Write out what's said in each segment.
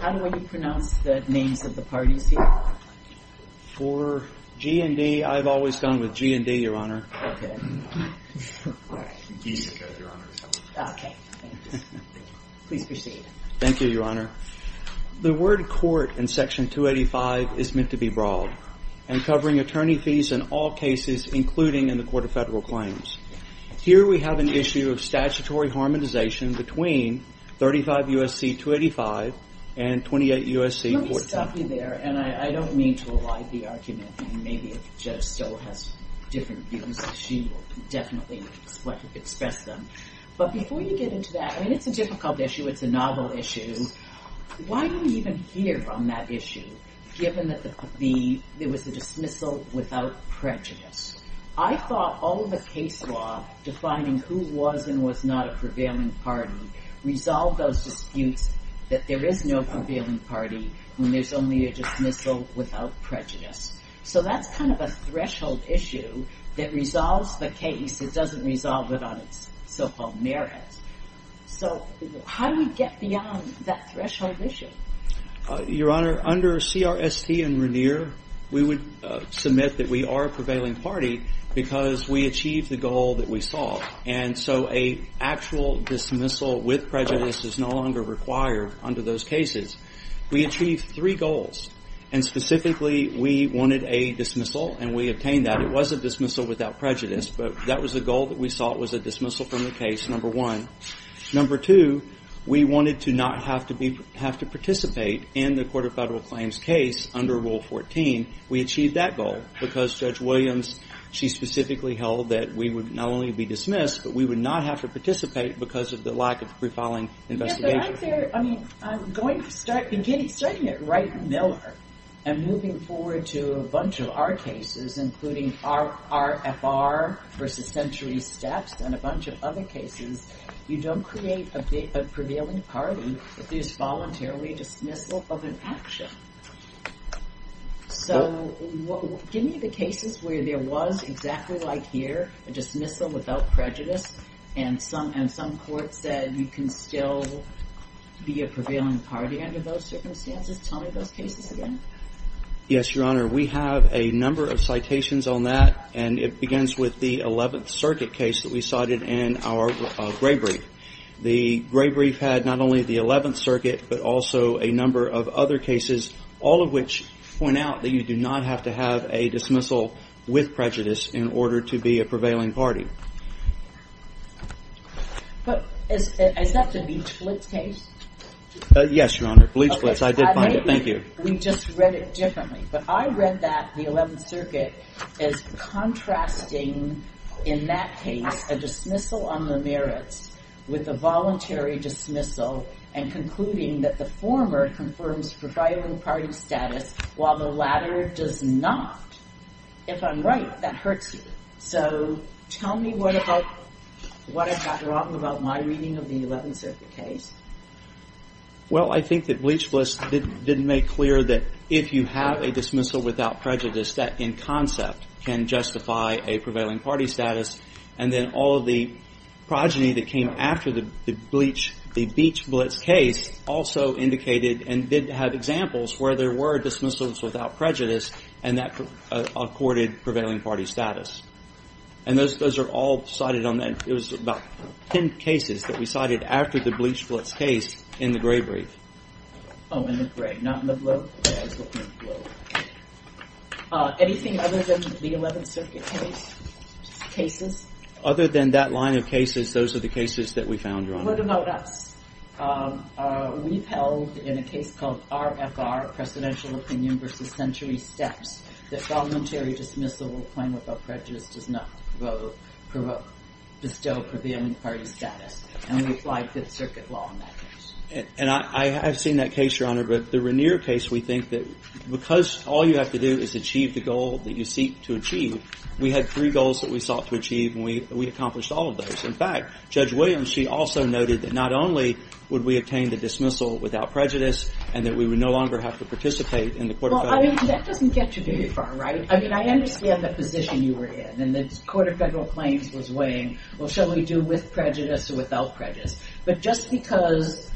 How do you pronounce the names of the parties here? For G&D, I've always gone with G&D, Your Honor. The word court in Section 285 is meant to be broad and covering attorney fees in all cases including in the Court of Federal Claims. Here we have an issue of statutory harmonization between 35 U.S.C. 285 and 28 U.S.C. 410. I don't mean to elide the argument, but before you get into that, it's a difficult issue, it's a novel issue. Why do we even hear on that issue given that there was a dismissal without prejudice? I thought all of the case law defining who was and was not a prevailing party resolved that there is no prevailing party when there's only a dismissal without prejudice. So that's kind of a threshold issue that resolves the case, it doesn't resolve it on its so-called merit. So how do we get beyond that threshold issue? Your Honor, under CRST and Regnier, we would submit that we are a prevailing party because we achieved the goal that we saw. And so an actual dismissal with prejudice is no longer required under those cases. We achieved three goals and specifically we wanted a dismissal and we obtained that. It was a dismissal without prejudice, but that was the goal that we saw, it was a dismissal from the case, number one. Number two, we wanted to not have to participate in the Court of Federal Claims case under Rule 14. We achieved that goal because Judge Williams, she specifically held that we would not only be dismissed, but we would not have to participate because of the lack of pre-filing investigation. Yes, but I'm going to start, starting at Wright and Miller and moving forward to a bunch of our cases, including RFR versus Century Steps and a bunch of other cases, you don't create a prevailing party if there's voluntarily a dismissal of an action. So, give me the cases where there was exactly like here, a dismissal without prejudice, and some courts said you can still be a prevailing party under those circumstances, tell me those cases again. Yes, Your Honor, we have a number of citations on that and it begins with the 11th Circuit case that we cited in our gray brief. The gray brief had not only the 11th Circuit, but also a number of other cases, all of which point out that you do not have to have a dismissal with prejudice in order to be a prevailing party. But is that the Bleach Blitz case? Yes, Your Honor, Bleach Blitz. I did find it. Thank you. We just read it differently, but I read that the 11th Circuit is contrasting in that case a dismissal on the merits with a voluntary dismissal and concluding that the former confirms prevailing party status while the latter does not. If I'm right, that hurts you. So, tell me what I got wrong about my reading of the 11th Circuit case. Well, I think that Bleach Blitz didn't make clear that if you have a dismissal without prejudice, that in concept can justify a prevailing party status. And then all of the progeny that came after the Bleach Blitz case also indicated and did have examples where there were dismissals without prejudice and that accorded prevailing party status. And those are all cited on that. It was about 10 cases that we cited after the Bleach Blitz case in the gray brief. Oh, in the gray. Not in the blue, but I was looking at blue. Anything other than the 11th Circuit case, cases? Other than that line of cases, those are the cases that we found, Your Honor. What about us? We've held, in a case called RFR, Presidential Opinion versus Century Steps, that voluntary dismissal or claim without prejudice does not bestow prevailing party status. And we applied 5th Circuit law on that case. And I have seen that case, Your Honor, but the Regnier case, we think that because all you have to do is achieve the goal that you seek to achieve, we had three goals that we sought to achieve and we accomplished all of those. In fact, Judge Williams, she also noted that not only would we obtain the dismissal without prejudice and that we would no longer have to participate in the court of federal claims. Well, I mean, that doesn't get you very far, right? I mean, I understand the position you were in and the court of federal claims was weighing, well, shall we do with prejudice or without prejudice? But just because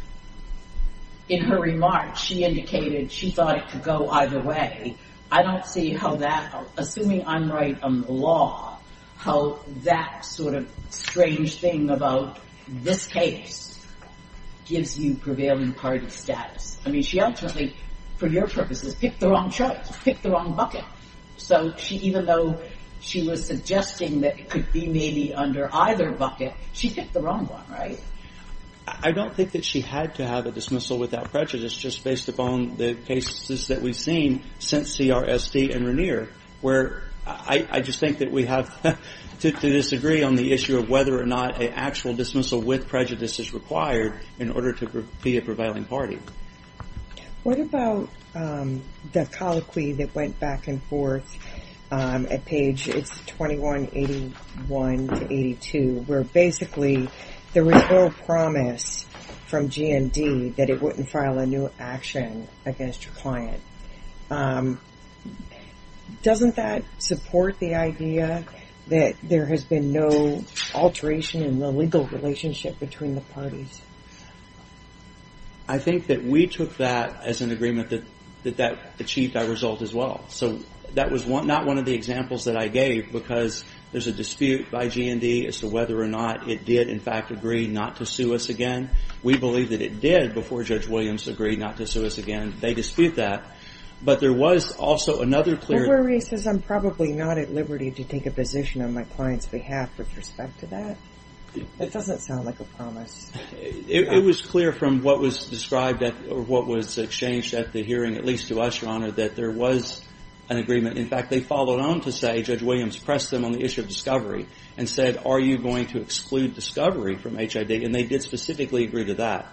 in her remarks, she indicated she thought it could go either way. I don't see how that, assuming I'm right on the law, how that sort of strange thing about this case gives you prevailing party status. I mean, she ultimately, for your purposes, picked the wrong choice, picked the wrong bucket. So she, even though she was suggesting that it could be maybe under either bucket, she picked the wrong one, right? I don't think that she had to have a dismissal without prejudice just based upon the cases that we've seen since CRSD and Regnier, where I just think that we have to disagree on the issue of whether or not an actual dismissal with prejudice is required in order to be a prevailing party. What about the colloquy that went back and forth at page, it's 2181 to 82, where basically there was no promise from GND that it wouldn't file a new action against your client. Doesn't that support the idea that there has been no alteration in the legal relationship between the parties? I think that we took that as an agreement that that achieved our result as well. So that was not one of the examples that I gave because there's a dispute by GND as to whether or not it did, in fact, agree not to sue us again. We believe that it did before Judge Williams agreed not to sue us again. They dispute that. But there was also another clear... Were we racist? I'm probably not at liberty to take a position on my client's behalf with respect to that. It doesn't sound like a promise. It was clear from what was exchanged at the hearing, at least to us, Your Honor, that there was an agreement. In fact, they followed on to say, Judge Williams pressed them on the issue of discovery and said, are you going to exclude discovery from HID? And they did specifically agree to that.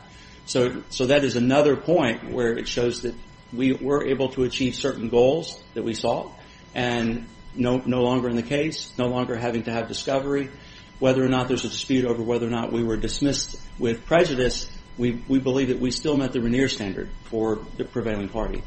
So that is another point where it shows that we were able to achieve certain goals that we saw and no longer in the case, no longer having to have discovery. Whether or not there's a dispute over whether or not we were dismissed with prejudice, we believe that we still met the Regnier standard for the prevailing party.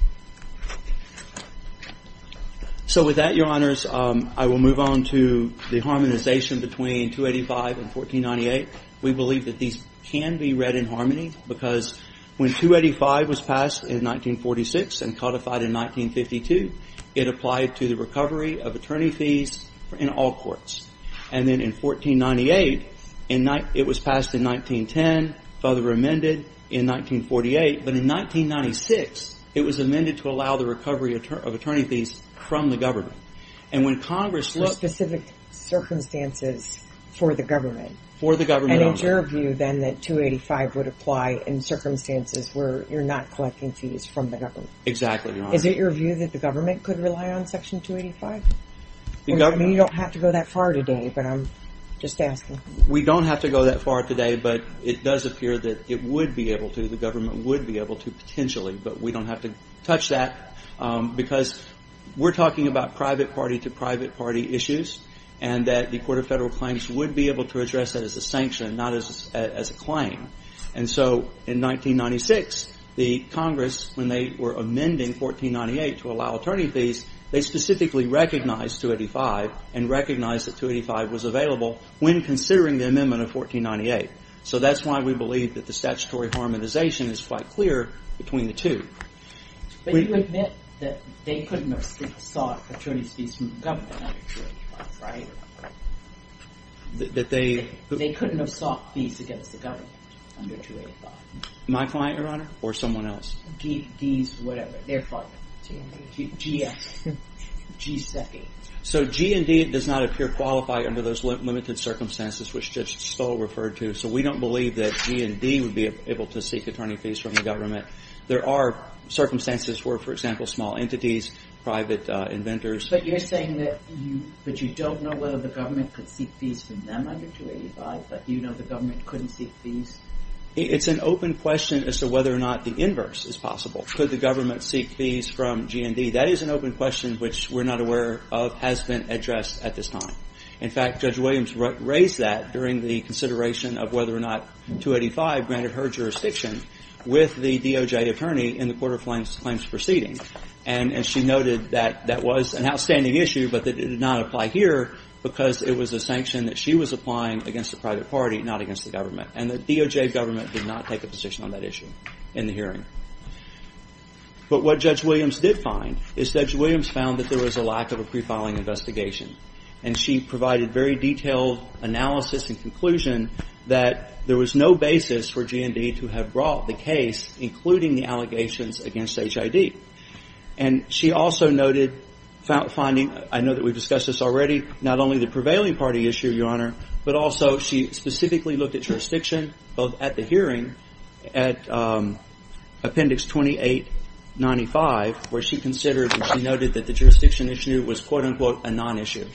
So with that, Your Honors, I will move on to the harmonization between 285 and 1498. We believe that these can be read in harmony because when 285 was passed in 1946 and codified in 1952, it applied to the recovery of attorney fees in all courts. And then in 1498, it was passed in 1910, further amended in 1948, but in 1996, it was amended to allow the recovery of attorney fees from the government. And when Congress looked... For specific circumstances for the government. For the government. And it's your view then that 285 would apply in circumstances where you're not collecting fees from the government. Exactly, Your Honor. Is it your view that the government could rely on Section 285? You don't have to go that far today, but I'm just asking. We don't have to go that far today, but it does appear that it would be able to. The government would be able to potentially, but we don't have to touch that because we're talking about private party to private party issues and that the Court of Federal Claims would be able to address that as a sanction, not as a claim. And so in 1996, the Congress, when they were amending 1498 to allow attorney fees, they specifically recognized 285 and recognized that 285 was available when considering the amendment of 1498. So that's why we believe that the statutory harmonization is quite clear between the two. But you admit that they couldn't have sought attorney fees from the government, right? That they... They couldn't have sought fees against the government under 285. My client, Your Honor, or someone else? D's, whatever, their client. G and D. G.S. G.S. So G and D does not appear qualified under those limited circumstances which Judge Stoll referred to. So we don't believe that G and D would be able to seek attorney fees from the government. There are circumstances where, for example, small entities, private inventors... But you're saying that you don't know whether the government could seek fees from them under 285, but you know the government couldn't seek fees? It's an open question as to whether or not the inverse is possible. Could the government seek fees from G and D? That is an open question which we're not aware of has been addressed at this time. In fact, Judge Williams raised that during the consideration of whether or not 285 granted her jurisdiction with the DOJ attorney in the Court of Claims proceeding. And she noted that that was an outstanding issue, but that it did not apply here because it was a sanction that she was applying against the private party, not against the government. And the DOJ government did not take a position on that issue in the hearing. But what Judge Williams did find is Judge Williams found that there was a lack of a pre-filing investigation. And she provided very detailed analysis and conclusion that there was no basis for G and D to have brought the case, including the allegations against HID. And she also noted finding, I know that we've discussed this already, not only the prevailing party issue, Your Honor, but also she specifically looked at jurisdiction both at the hearing at Appendix 2895 where she considered and she noted that the jurisdiction issue was quote unquote a non-issue.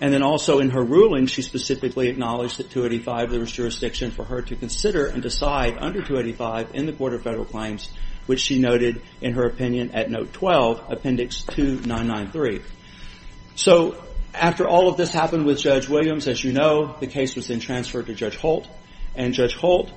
And then also in her ruling, she specifically acknowledged that 285 there was jurisdiction for her to consider and decide under 285 in the Court of Federal Claims, which she noted in her opinion at Note 12, Appendix 2993. So after all of this happened with Judge Williams, as you know, the case was then transferred to Judge Holt. And Judge Holt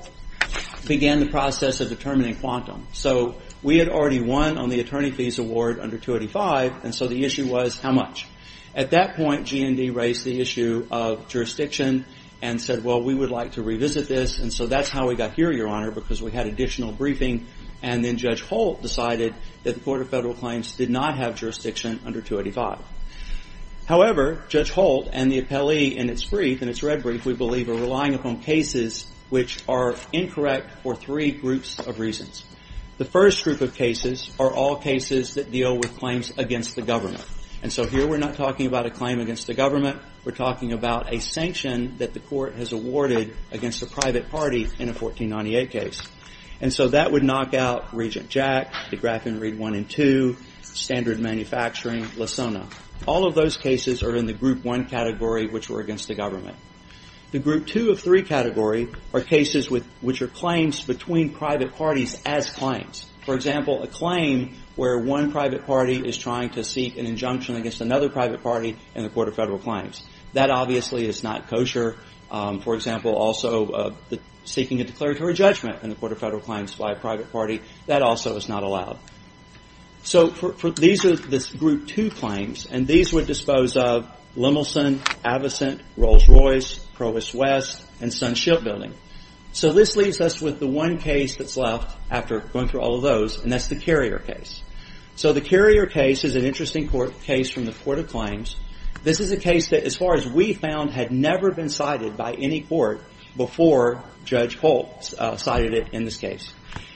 began the process of determining quantum. So we had already won on the attorney fees award under 285, and so the issue was how much. At that point, G and D raised the issue of jurisdiction and said, well, we would like to revisit this. And so that's how we got here, Your Honor, because we had additional briefing. And then Judge Holt decided that the Court of Federal Claims did not have jurisdiction under 285. However, Judge Holt and the appellee in its brief, in its red brief, we believe are relying upon cases which are incorrect for three groups of reasons. The first group of cases are all cases that deal with claims against the governor. And so here, we're not talking about a claim against the government. We're talking about a sanction that the court has awarded against a private party in a 1498 case. And so that would knock out Regent Jack, the Graffin Reed 1 and 2, Standard Manufacturing, Lasona. All of those cases are in the Group 1 category, which were against the government. The Group 2 of 3 category are cases which are claims between private parties as claims. For example, a claim where one private party is trying to seek an injunction against another private party in the Court of Federal Claims. That obviously is not kosher. For example, also seeking a declaratory judgment in the Court of Federal Claims by a private party. That also is not allowed. So these are the Group 2 claims. And these would dispose of Lemelson, Avocent, Rolls-Royce, Provost West, and Sunship Building. So this leaves us with the one case that's left after going through all of those, and that's the Carrier case. So the Carrier case is an interesting case from the Court of Claims. This is a case that, as far as we found, had never been cited by any court before Judge Holt cited it in this case.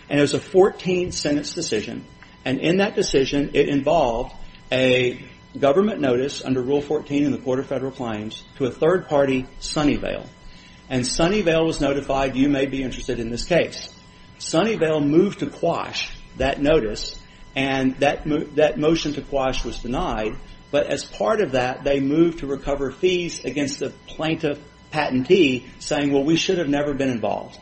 And it was a 14-sentence decision. And in that decision, it involved a government notice under Rule 14 in the Court of Federal Claims to a third party, Sunnyvale. And Sunnyvale was notified, you may be interested in this case. Sunnyvale moved to quash that notice, and that motion to quash was denied. But as part of that, they moved to recover fees against the plaintiff patentee, saying, well, we should have never been involved.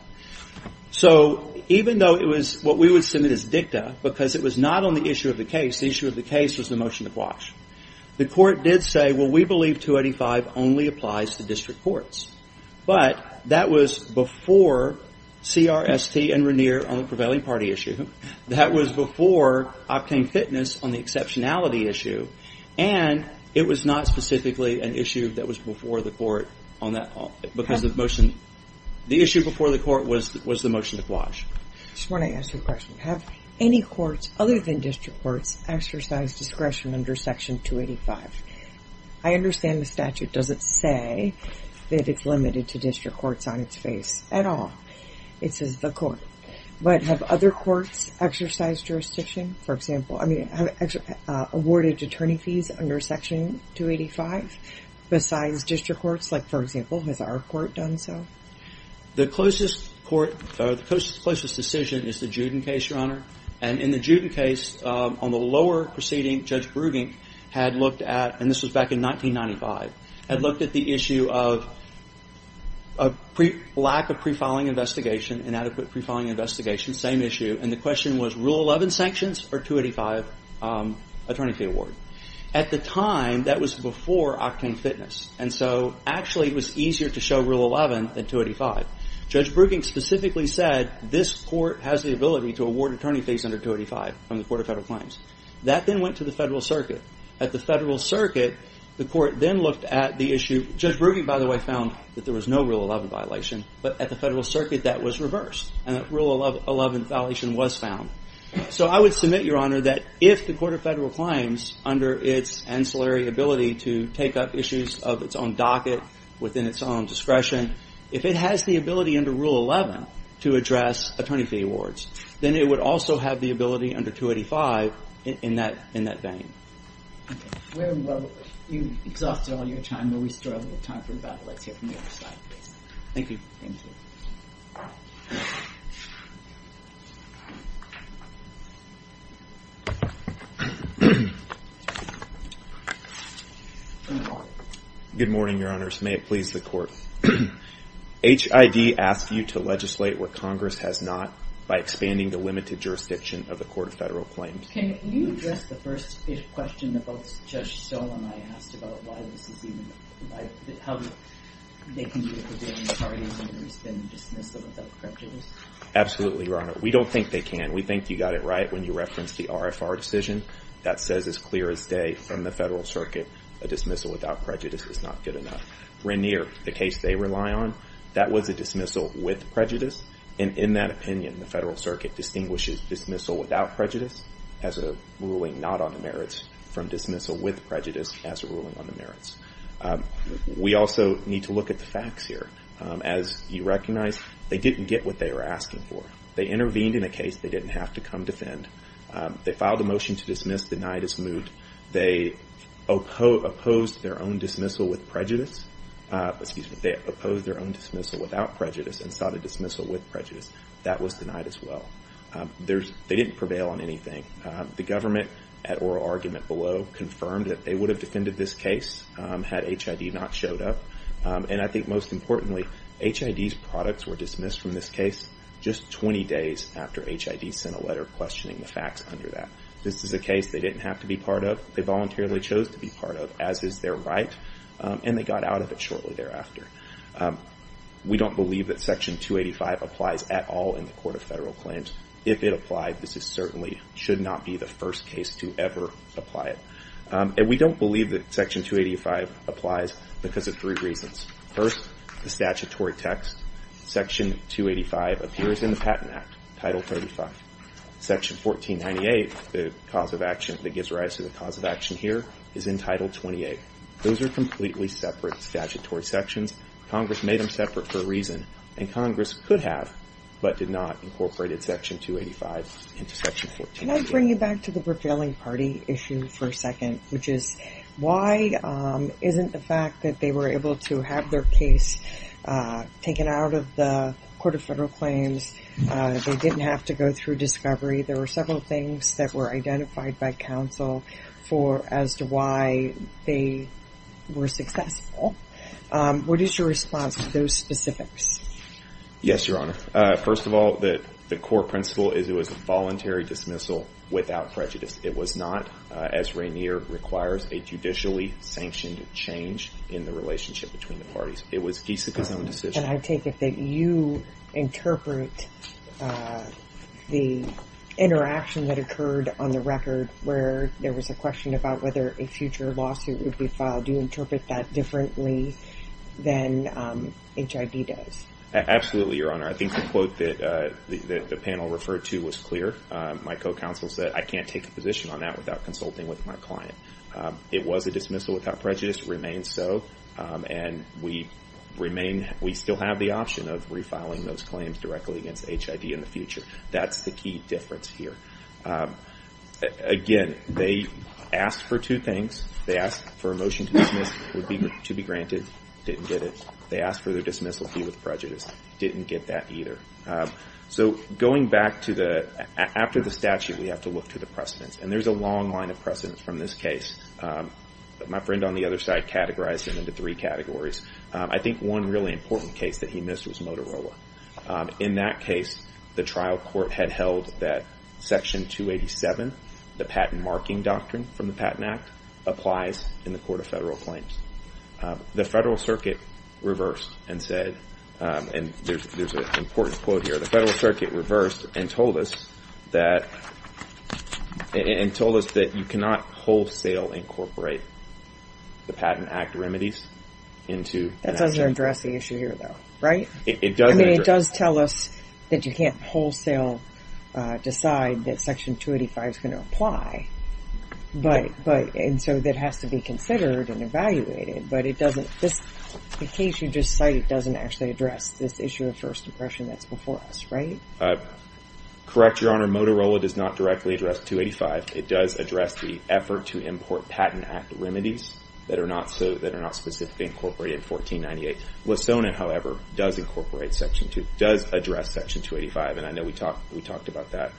So even though it was what we would submit as dicta, because it was not on the issue of the case, the issue of the case was the motion to quash. The court did say, well, we believe 285 only applies to district courts. But that was before CRST and Regnier on the prevailing party issue. That was before Optane Fitness on the exceptionality issue. And it was not specifically an issue that was before the court on that. Because the motion, the issue before the court was the motion to quash. I just want to ask you a question. Have any courts, other than district courts, exercised discretion under Section 285? I understand the statute doesn't say that it's limited to district courts on its face at all. It says the court. But have other courts exercised jurisdiction, for example, I mean, awarded attorney fees under Section 285 besides district courts? Like for example, has our court done so? The closest court, the closest decision is the Juden case, Your Honor. And in the Juden case, on the lower proceeding, Judge Brugink had looked at, and this was back in 1995, had looked at the issue of a lack of pre-filing investigation, inadequate pre-filing investigation, same issue. And the question was, Rule 11 sanctions or 285 attorney fee award? At the time, that was before Optane Fitness. And so actually, it was easier to show Rule 11 than 285. Judge Brugink specifically said, this court has the ability to award attorney fees under 285 from the Court of Federal Claims. That then went to the Federal Circuit. At the Federal Circuit, the court then looked at the issue. Judge Brugink, by the way, found that there was no Rule 11 violation. But at the Federal Circuit, that was reversed. And that Rule 11 violation was found. So I would submit, Your Honor, that if the Court of Federal Claims, under its ancillary ability to take up issues of its own docket, within its own discretion, if it has the ability under Rule 11 to address attorney fee awards, then it would also have the ability under 285 in that vein. Okay. Well, you've exhausted all your time, but we still have a little time for about, let's hear from the other side, please. Thank you. Thank you. Good morning, Your Honors. May it please the Court. HID asks you to legislate where Congress has not by expanding the limited jurisdiction of the Court of Federal Claims. Can you address the first question that both Judge Sola and I asked about why this is even Absolutely, Your Honor. We don't think they can. We think you got it right when you referenced the RFR decision. That says as clear as day from the Federal Circuit, a dismissal without prejudice is not good enough. Rainier, the case they rely on, that was a dismissal with prejudice. And in that opinion, the Federal Circuit distinguishes dismissal without prejudice as a ruling not on the merits from dismissal with prejudice as a ruling on the merits. We also need to look at the facts here. As you recognize, they didn't get what they were asking for. They intervened in a case they didn't have to come defend. They filed a motion to dismiss, denied as moot. They opposed their own dismissal without prejudice and sought a dismissal with prejudice. That was denied as well. They didn't prevail on anything. The government, at oral argument below, confirmed that they would have defended this case had HID not showed up. And I think most importantly, HID's products were dismissed from this case just 20 days after HID sent a letter questioning the facts under that. This is a case they didn't have to be part of. They voluntarily chose to be part of, as is their right. And they got out of it shortly thereafter. We don't believe that Section 285 applies at all in the Court of Federal Claims. If it applied, this certainly should not be the first case to ever apply it. And we don't believe that Section 285 applies because of three reasons. First, the statutory text. Section 285 appears in the Patent Act, Title 35. Section 1498, the cause of action that gives rise to the cause of action here, is in Title 28. Those are completely separate statutory sections. Congress made them separate for a reason. And Congress could have, but did not incorporate Section 285 into Section 1498. Can I bring you back to the prevailing party issue for a second, which is why isn't the fact that they were able to have their case taken out of the Court of Federal Claims, they didn't have to go through discovery. There were several things that were identified by counsel as to why they were successful. What is your response to those specifics? Yes, Your Honor. First of all, the core principle is it was a voluntary dismissal without prejudice. It was not, as Rainier requires, a judicially sanctioned change in the relationship between the parties. It was Giesecke's own decision. And I take it that you interpret the interaction that occurred on the record where there was a question about whether a future lawsuit would be filed. Do you interpret that differently than HID does? Absolutely, Your Honor. I think the quote that the panel referred to was clear. My co-counsel said, I can't take a position on that without consulting with my client. It was a dismissal without prejudice. It remains so. And we still have the option of refiling those claims directly against HID in the future. That's the key difference here. Again, they asked for two things. They asked for a motion to dismiss to be granted. Didn't get it. They asked for their dismissal to be with prejudice. Didn't get that either. So going back to the, after the statute, we have to look to the precedents. And there's a long line of precedents from this case. My friend on the other side categorized it into three categories. I think one really important case that he missed was Motorola. In that case, the trial court had held that Section 287, the patent marking doctrine from the Patent Act, applies in the Court of Federal Claims. The Federal Circuit reversed and said, and there's an important quote here. The Federal Circuit reversed and told us that, and told us that you cannot wholesale incorporate the Patent Act remedies into. That doesn't address the issue here though, right? It doesn't. I mean, it does tell us that you can't wholesale decide that Section 285 is going to apply. But, but, and so that has to be considered and evaluated. But it doesn't, this, the case you just cited doesn't actually address this issue of first impression that's before us, right? Correct, Your Honor. Motorola does not directly address 285. It does address the effort to import Patent Act remedies that are not so, that are not specifically incorporated in 1498. Lissona, however, does incorporate Section, does address Section 285. And I know we talked, we talked about that.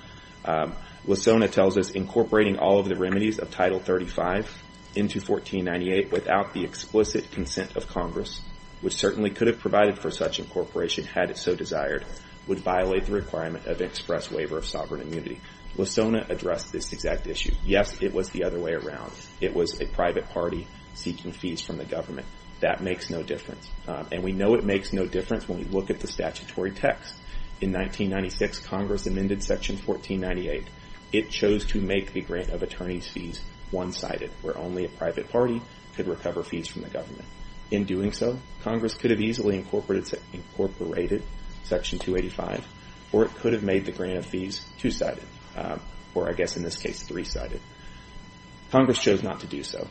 Lissona tells us incorporating all of the remedies of Title 35 into 1498 without the explicit consent of Congress, which certainly could have provided for such incorporation had it so desired, would violate the requirement of express waiver of sovereign immunity. Lissona addressed this exact issue. Yes, it was the other way around. It was a private party seeking fees from the government. That makes no difference. And we know it makes no difference when we look at the statutory text. In 1996, Congress amended Section 1498. It chose to make the grant of attorney's fees one-sided, where only a private party could recover fees from the government. In doing so, Congress could have easily incorporated Section 285, or it could have made the grant of fees two-sided, or I guess in this case, three-sided. Congress chose not to do so.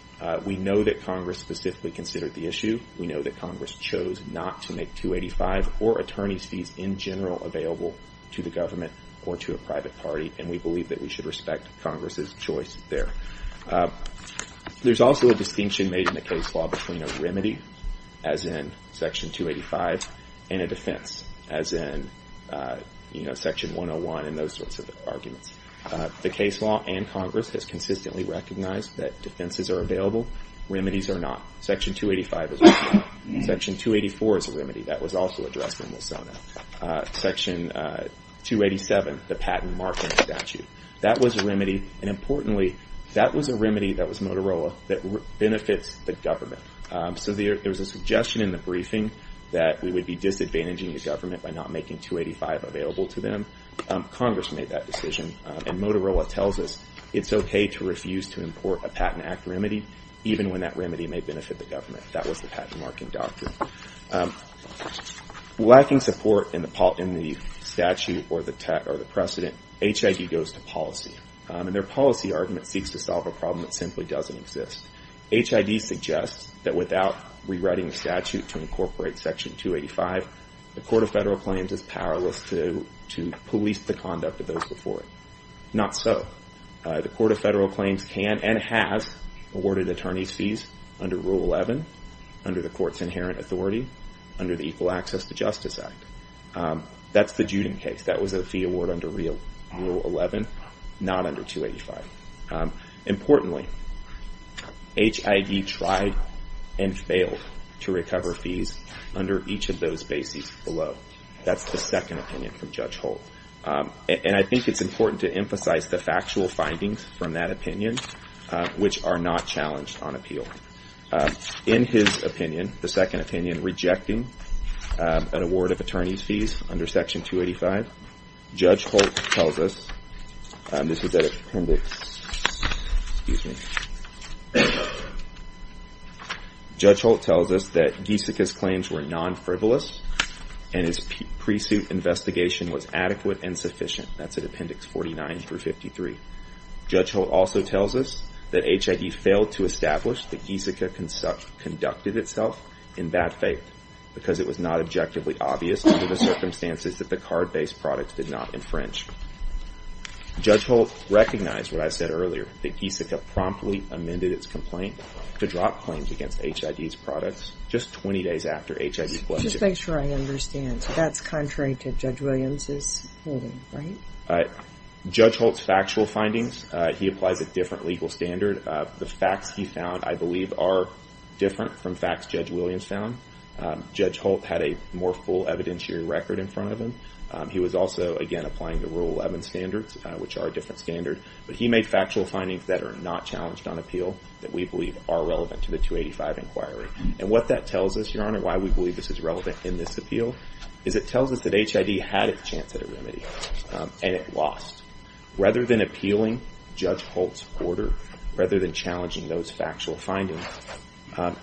We know that Congress specifically considered the issue. We know that Congress chose not to make 285 or attorney's fees in general available to the government or to a private party. And we believe that we should respect Congress's choice there. There's also a distinction made in the case law between a remedy, as in Section 285, and a defense, as in Section 101 and those sorts of arguments. The case law and Congress has consistently recognized that defenses are available, remedies are not. Section 285 is a remedy. Section 284 is a remedy. That was also addressed in the SONA. Section 287, the patent marking statute, that was a remedy. And importantly, that was a remedy that was Motorola that benefits the government. So there was a suggestion in the briefing that we would be disadvantaging the government by not making 285 available to them. Congress made that decision, and Motorola tells us it's okay to refuse to import a Patent Act remedy, even when that remedy may benefit the government. That was the patent marking doctrine. Lacking support in the statute or the precedent, HID goes to policy. And their policy argument seeks to solve a problem that simply doesn't exist. HID suggests that without rewriting the statute to incorporate Section 285, the Court of Federal Claims is powerless to police the conduct of those before it. Not so. The Court of Federal Claims can and has awarded attorney's fees under Rule 11, under the Court's inherent authority, under the Equal Access to Justice Act. That's the Juden case. That was a fee award under Rule 11, not under 285. Importantly, HID tried and failed to recover fees under each of those bases below. That's the second opinion from Judge Holt. And I think it's important to emphasize the factual findings from that opinion, which are not challenged on appeal. In his opinion, the second opinion, rejecting an award of attorney's fees under Section 285, Judge Holt tells us that Giesecke's claims were non-frivolous, and his pre-suit investigation was adequate and sufficient. That's at Appendix 49 through 53. Judge Holt also tells us that HID failed to establish that Giesecke conducted itself in bad faith, because it was not objectively obvious under the circumstances that the card-based product did not infringe. Judge Holt recognized what I said earlier, that Giesecke promptly amended its complaint to drop claims against HID's products just 20 days after HID was issued. Just to make sure I understand, that's contrary to Judge Williams' holding, right? Judge Holt's factual findings, he applies a different legal standard. The facts he found, I believe, are different from facts Judge Williams found. Judge Holt had a more full evidentiary record in front of him. He was also, again, applying the Rule 11 standards, which are a different standard. But he made factual findings that are not challenged on appeal, that we believe are relevant to the 285 inquiry. And what that tells us, Your Honor, why we believe this is relevant in this appeal, is it tells us that HID had its chance at a remedy, and it lost. Rather than appealing Judge Holt's order, rather than challenging those factual findings,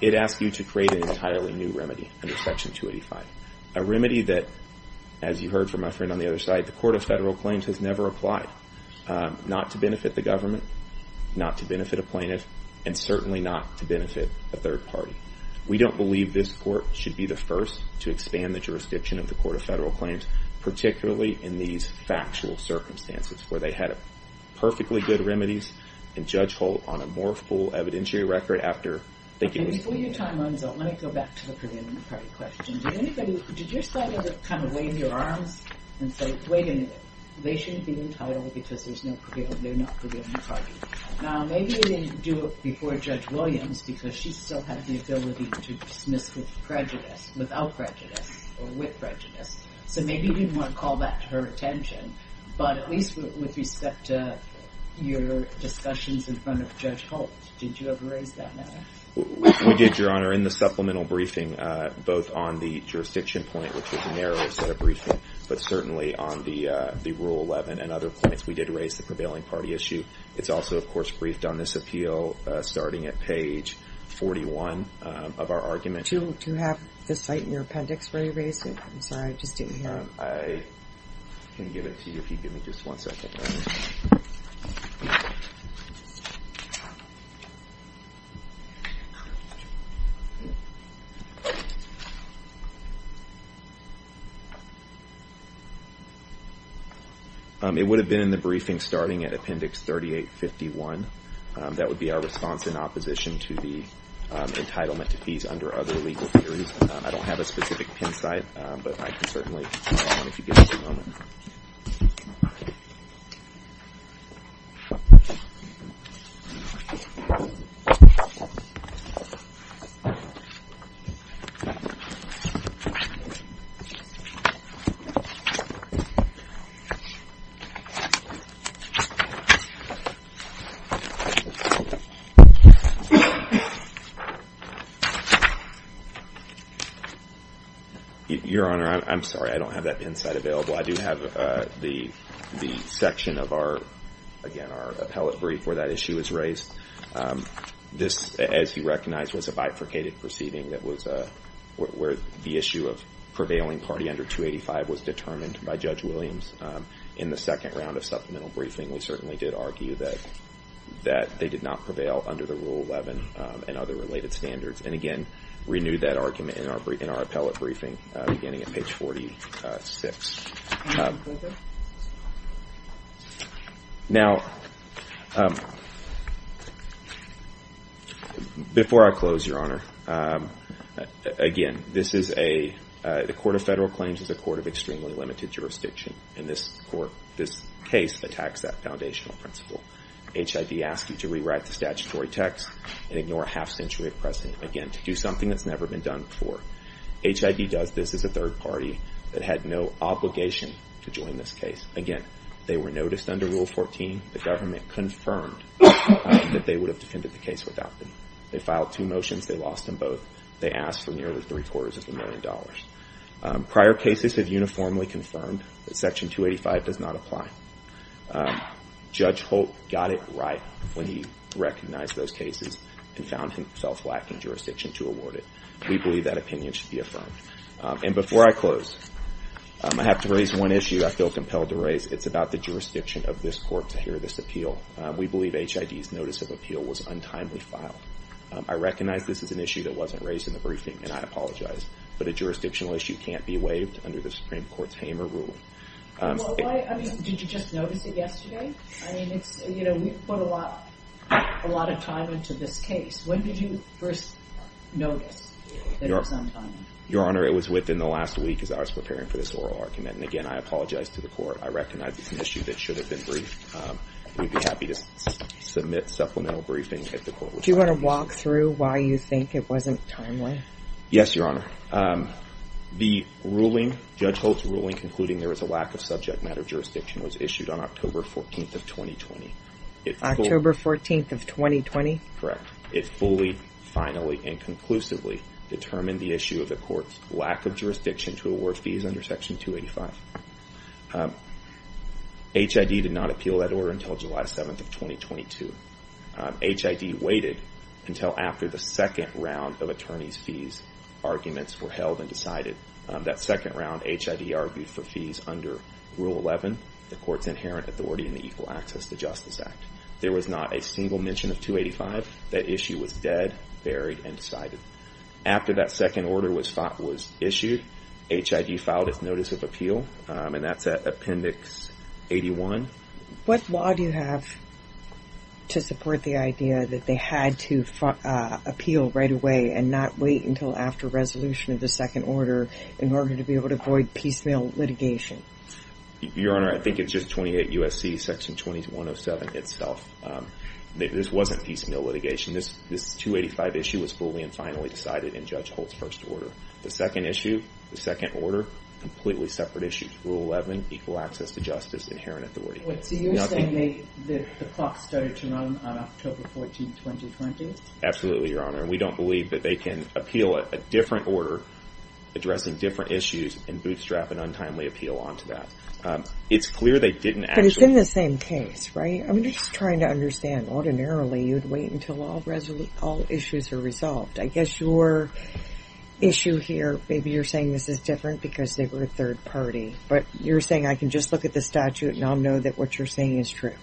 it asks you to create an entirely new remedy under Section 285. A remedy that, as you heard from my friend on the other side, the Court of Federal Claims has never applied. Not to benefit the government, not to benefit a plaintiff, and certainly not to benefit a third party. We don't believe this court should be the first to expand the jurisdiction of the Court of Federal Claims, particularly in these factual circumstances, where they had perfectly good remedies. And Judge Holt, on a more full evidentiary record, after they gave us- And before your time runs out, let me go back to the prevailing party question. Did anybody, did your side ever kind of wave your arms and say, wait a minute. They shouldn't be entitled because there's no prevailing, they're not prevailing party. Now maybe they didn't do it before Judge Williams because she still had the ability to dismiss with prejudice, without prejudice, or with prejudice. So maybe you didn't want to call that to her attention. But at least with respect to your discussions in front of Judge Holt, did you ever raise that matter? We did, Your Honor. In the supplemental briefing, both on the jurisdiction point, which was a narrow set of briefing, but certainly on the Rule 11 and other points, we did raise the prevailing party issue. It's also, of course, briefed on this appeal, starting at page 41 of our argument. Do you have the site in your appendix where you raised it? I'm sorry, I just didn't hear it. I can give it to you if you give me just one second. It would have been in the briefing starting at appendix 3851. That would be our response in opposition to the entitlement to peace under other legal theories. I don't have a specific pin site, but I can certainly give it to you if you give me just a moment. Your Honor, I'm sorry, I don't have that pin site available. I do have the section of our, again, our appellate brief where that issue is raised. This, as you recognize, was a bifurcated proceeding that was where the issue of prevailing party under 285 was determined by Judge Williams. In the second round of supplemental briefing, we certainly did argue that they did not prevail under the Rule 11 and other related standards. And again, renewed that argument in our appellate briefing beginning at page 46. Now, before I close, Your Honor, again, this is a, the Court of Federal Claims is a court of extremely limited jurisdiction. And this court, this case, attacks that foundational principle. HID asked you to rewrite the statutory text and ignore a half century of precedent, again, to do something that's never been done before. HID does this as a third party that had no obligation to join this case. Again, they were noticed under Rule 14. The government confirmed that they would have defended the case without them. They filed two motions. They lost them both. They asked for nearly three quarters of a million dollars. Prior cases have uniformly confirmed that Section 285 does not apply. Judge Holt got it right when he recognized those cases and found himself lacking jurisdiction to award it. We believe that opinion should be affirmed. And before I close, I have to raise one issue I feel compelled to raise. It's about the jurisdiction of this court to hear this appeal. We believe HID's notice of appeal was untimely filed. I recognize this is an issue that wasn't raised in the briefing, and I apologize. But a jurisdictional issue can't be waived under the Supreme Court's Hamer Rule. Did you just notice it yesterday? I mean, we put a lot of time into this case. When did you first notice that it was untimely? Your Honor, it was within the last week as I was preparing for this oral argument. And again, I apologize to the court. I recognize it's an issue that should have been briefed. We'd be happy to submit supplemental briefing if the court would like. Do you want to walk through why you think it wasn't timely? Yes, Your Honor. The ruling, Judge Holt's ruling concluding there is a lack of subject matter jurisdiction was issued on October 14th of 2020. October 14th of 2020? Correct. It fully, finally, and conclusively determined the issue of the court's lack of jurisdiction to award fees under Section 285. HID did not appeal that order until July 7th of 2022. HID waited until after the second round of attorney's fees arguments were held and decided. That second round, HID argued for fees under Rule 11, the court's inherent authority in the Equal Access to Justice Act. There was not a single mention of 285. That issue was dead, buried, and decided. After that second order was issued, HID filed its notice of appeal. And that's at Appendix 81. What law do you have to support the idea that they had to appeal right away and not wait until after resolution of the second order in order to be able to avoid piecemeal litigation? Your Honor, I think it's just 28 U.S.C. Section 2107 itself. This wasn't piecemeal litigation. This 285 issue was fully and finally decided in Judge Holt's first order. The second issue, the second order, completely separate issues. Rule 11, Equal Access to Justice, inherent authority. So you're saying the clock started to run on October 14, 2020? Absolutely, Your Honor. We don't believe that they can appeal a different order, addressing different issues, and bootstrap an untimely appeal onto that. It's clear they didn't actually. But it's in the same case, right? I mean, you're just trying to understand. Ordinarily, you'd wait until all issues are resolved. I guess your issue here, maybe you're saying this is different because they were a third party. But you're saying I can just look at the statute and I'll know that what you're saying is true.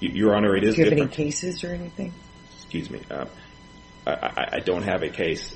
Your Honor, it is different. Do you have any cases or anything? Excuse me. I don't have a case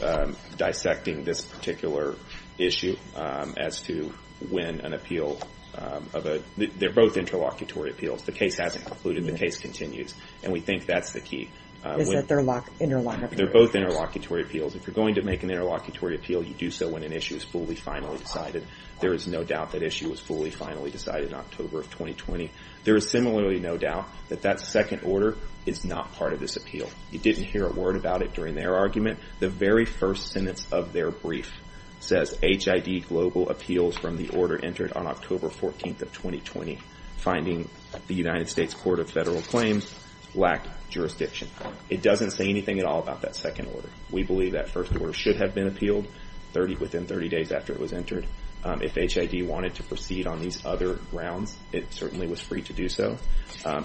dissecting this particular issue as to when an appeal of a, they're both interlocutory appeals. The case hasn't concluded. The case continues. And we think that's the key. Is that they're interlocked? They're both interlocutory appeals. If you're going to make an interlocutory appeal, you do so when an issue is fully, finally decided. There is no doubt that issue was fully, finally decided in October of 2020. There is similarly no doubt that that second order is not part of this appeal. You didn't hear a word about it during their argument. The very first sentence of their brief says, HID Global appeals from the order entered on October 14th of 2020, finding the United States Court of Federal Claims lacked jurisdiction. It doesn't say anything at all about that second order. We believe that first order should have been appealed within 30 days after it was entered. If HID wanted to proceed on these other grounds, it certainly was free to do so.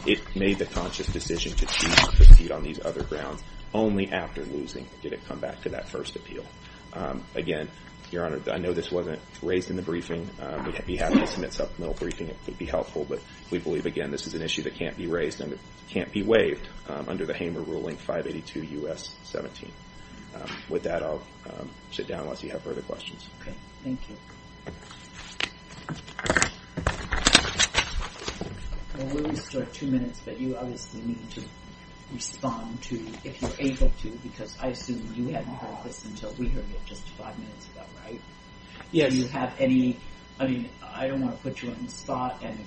It made the conscious decision to choose to proceed on these other grounds only after losing did it come back to that first appeal. Again, Your Honor, I know this wasn't raised in the briefing. We'd be happy to submit supplemental briefing if it would be helpful. But we believe, again, this is an issue that can't be raised and it can't be waived under the Hamer ruling 582 U.S. 17. With that, I'll sit down once you have further questions. Okay, thank you. Well, we'll restore two minutes, but you obviously need to respond to, if you're able to, because I assume you haven't heard this until we heard it just five minutes ago, right? Yeah, do you have any, I mean, I don't want to put you on the spot and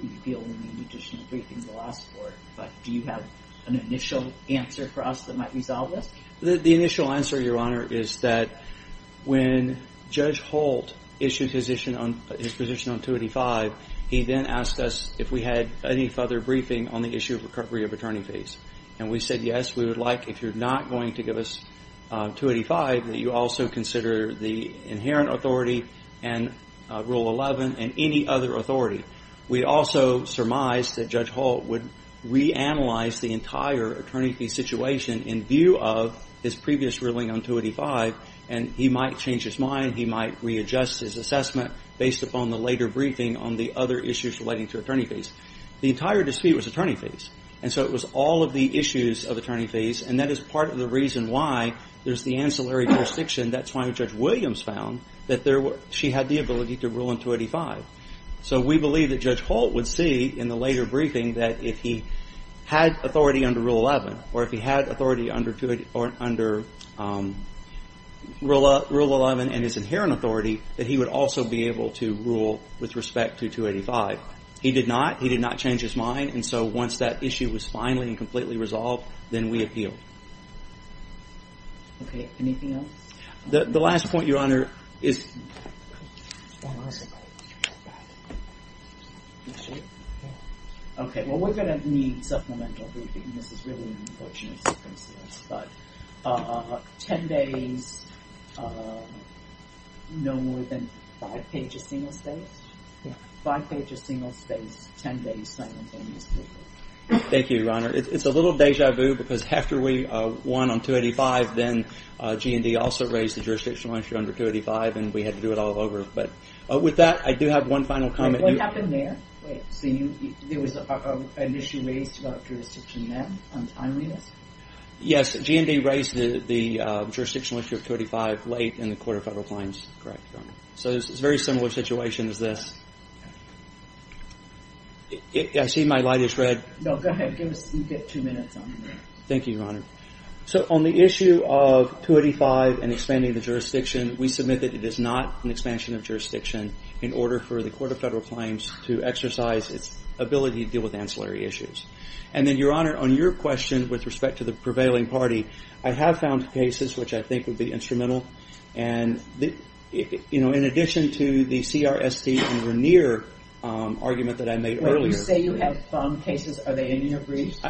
reveal any additional briefings we'll ask for, but do you have an initial answer for us that might resolve this? The initial answer, Your Honor, is that when Judge Holt issued his position on 285, he then asked us if we had any further briefing on the issue of recovery of attorney fees. And we said, yes, we would like, if you're not going to give us 285, that you also consider the inherent authority and Rule 11 and any other authority. We also surmised that Judge Holt would reanalyze the entire attorney fee situation in view of his previous ruling on 285, and he might change his mind, he might readjust his assessment based upon the later briefing on the other issues relating to attorney fees. The entire dispute was attorney fees. And so it was all of the issues of attorney fees, and that is part of the reason why there's the ancillary jurisdiction. That's why Judge Williams found that she had the ability to rule on 285. So we believe that Judge Holt would see in the later briefing that if he had authority under Rule 11, or if he had authority under Rule 11 and his inherent authority, that he would also be able to rule with respect to 285. He did not, he did not change his mind, and so once that issue was finally and completely resolved, then we appealed. Okay, anything else? The last point, Your Honor, is... One more second. Okay, well, we're gonna need supplemental briefing. This is really an unfortunate circumstance, but 10 days, no more than five pages single-spaced. Five pages single-spaced, 10 days simultaneously. Thank you, Your Honor. It's a little deja vu, because after we won on 285, then G&E also raised the jurisdictional issue under 285, and we had to do it all over. With that, I do have one final comment. Wait, what happened there? So there was an issue raised about jurisdiction then, on timeliness? Yes, G&E raised the jurisdictional issue of 285 late in the Court of Federal Claims. Correct, Your Honor. So it's a very similar situation as this. I see my light is red. No, go ahead, you get two minutes on that. Thank you, Your Honor. So on the issue of 285 and expanding the jurisdiction, we submit that it is not an expansion of jurisdiction in order for the Court of Federal Claims to exercise its ability to deal with ancillary issues. And then, Your Honor, on your question with respect to the prevailing party, I have found cases which I think would be instrumental. And in addition to the CRST and Raniere argument that I made earlier. When you say you have found cases, are they in your briefs?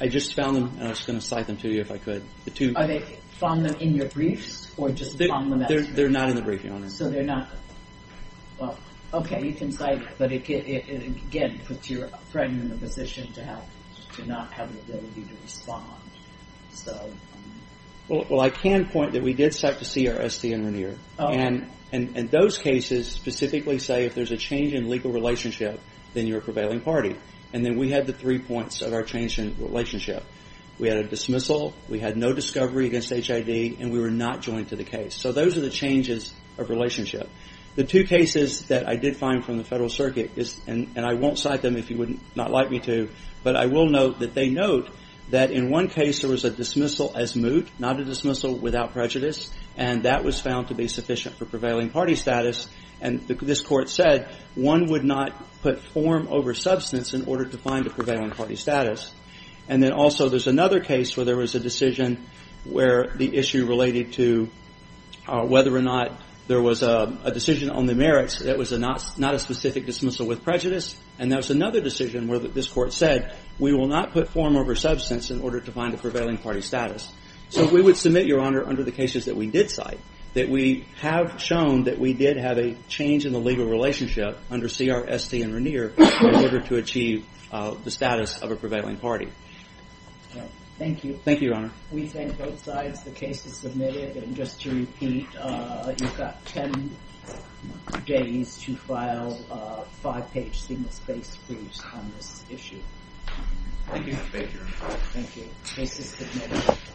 I just found them, and I was gonna cite them to you if I could. Are they found in your briefs, or just found in that? They're not in the briefing, Your Honor. So they're not, well, okay, you can cite it. But again, it puts your friend in a position to not have the ability to respond, so. Well, I can point that we did cite the CRST and Raniere. And those cases specifically say if there's a change in legal relationship, then you're a prevailing party. And then we had the three points of our change in relationship. We had a dismissal, we had no discovery against HIV, and we were not joined to the case. So those are the changes of relationship. The two cases that I did find from the Federal Circuit, and I won't cite them if you would not like me to, but I will note that they note that in one case there was a dismissal as moot, not a dismissal without prejudice, and that was found to be sufficient for prevailing party status. And this Court said one would not put form over substance in order to find a prevailing party status. And then also there's another case where there was a decision where the issue related to whether or not there was a decision on the merits that was not a specific dismissal with prejudice. And there was another decision where this Court said we will not put form over substance in order to find a prevailing party status. So we would submit, Your Honor, under the cases that we did cite, that we have shown that we did have a change in the legal relationship under CRST and Raniere in order to achieve the status of a prevailing party. Thank you. Thank you, Your Honor. We thank both sides. The case is submitted. And just to repeat, you've got 10 days to file a five-page single-spaced briefs on this issue. Thank you, Mr. Baker. Thank you. Case is submitted.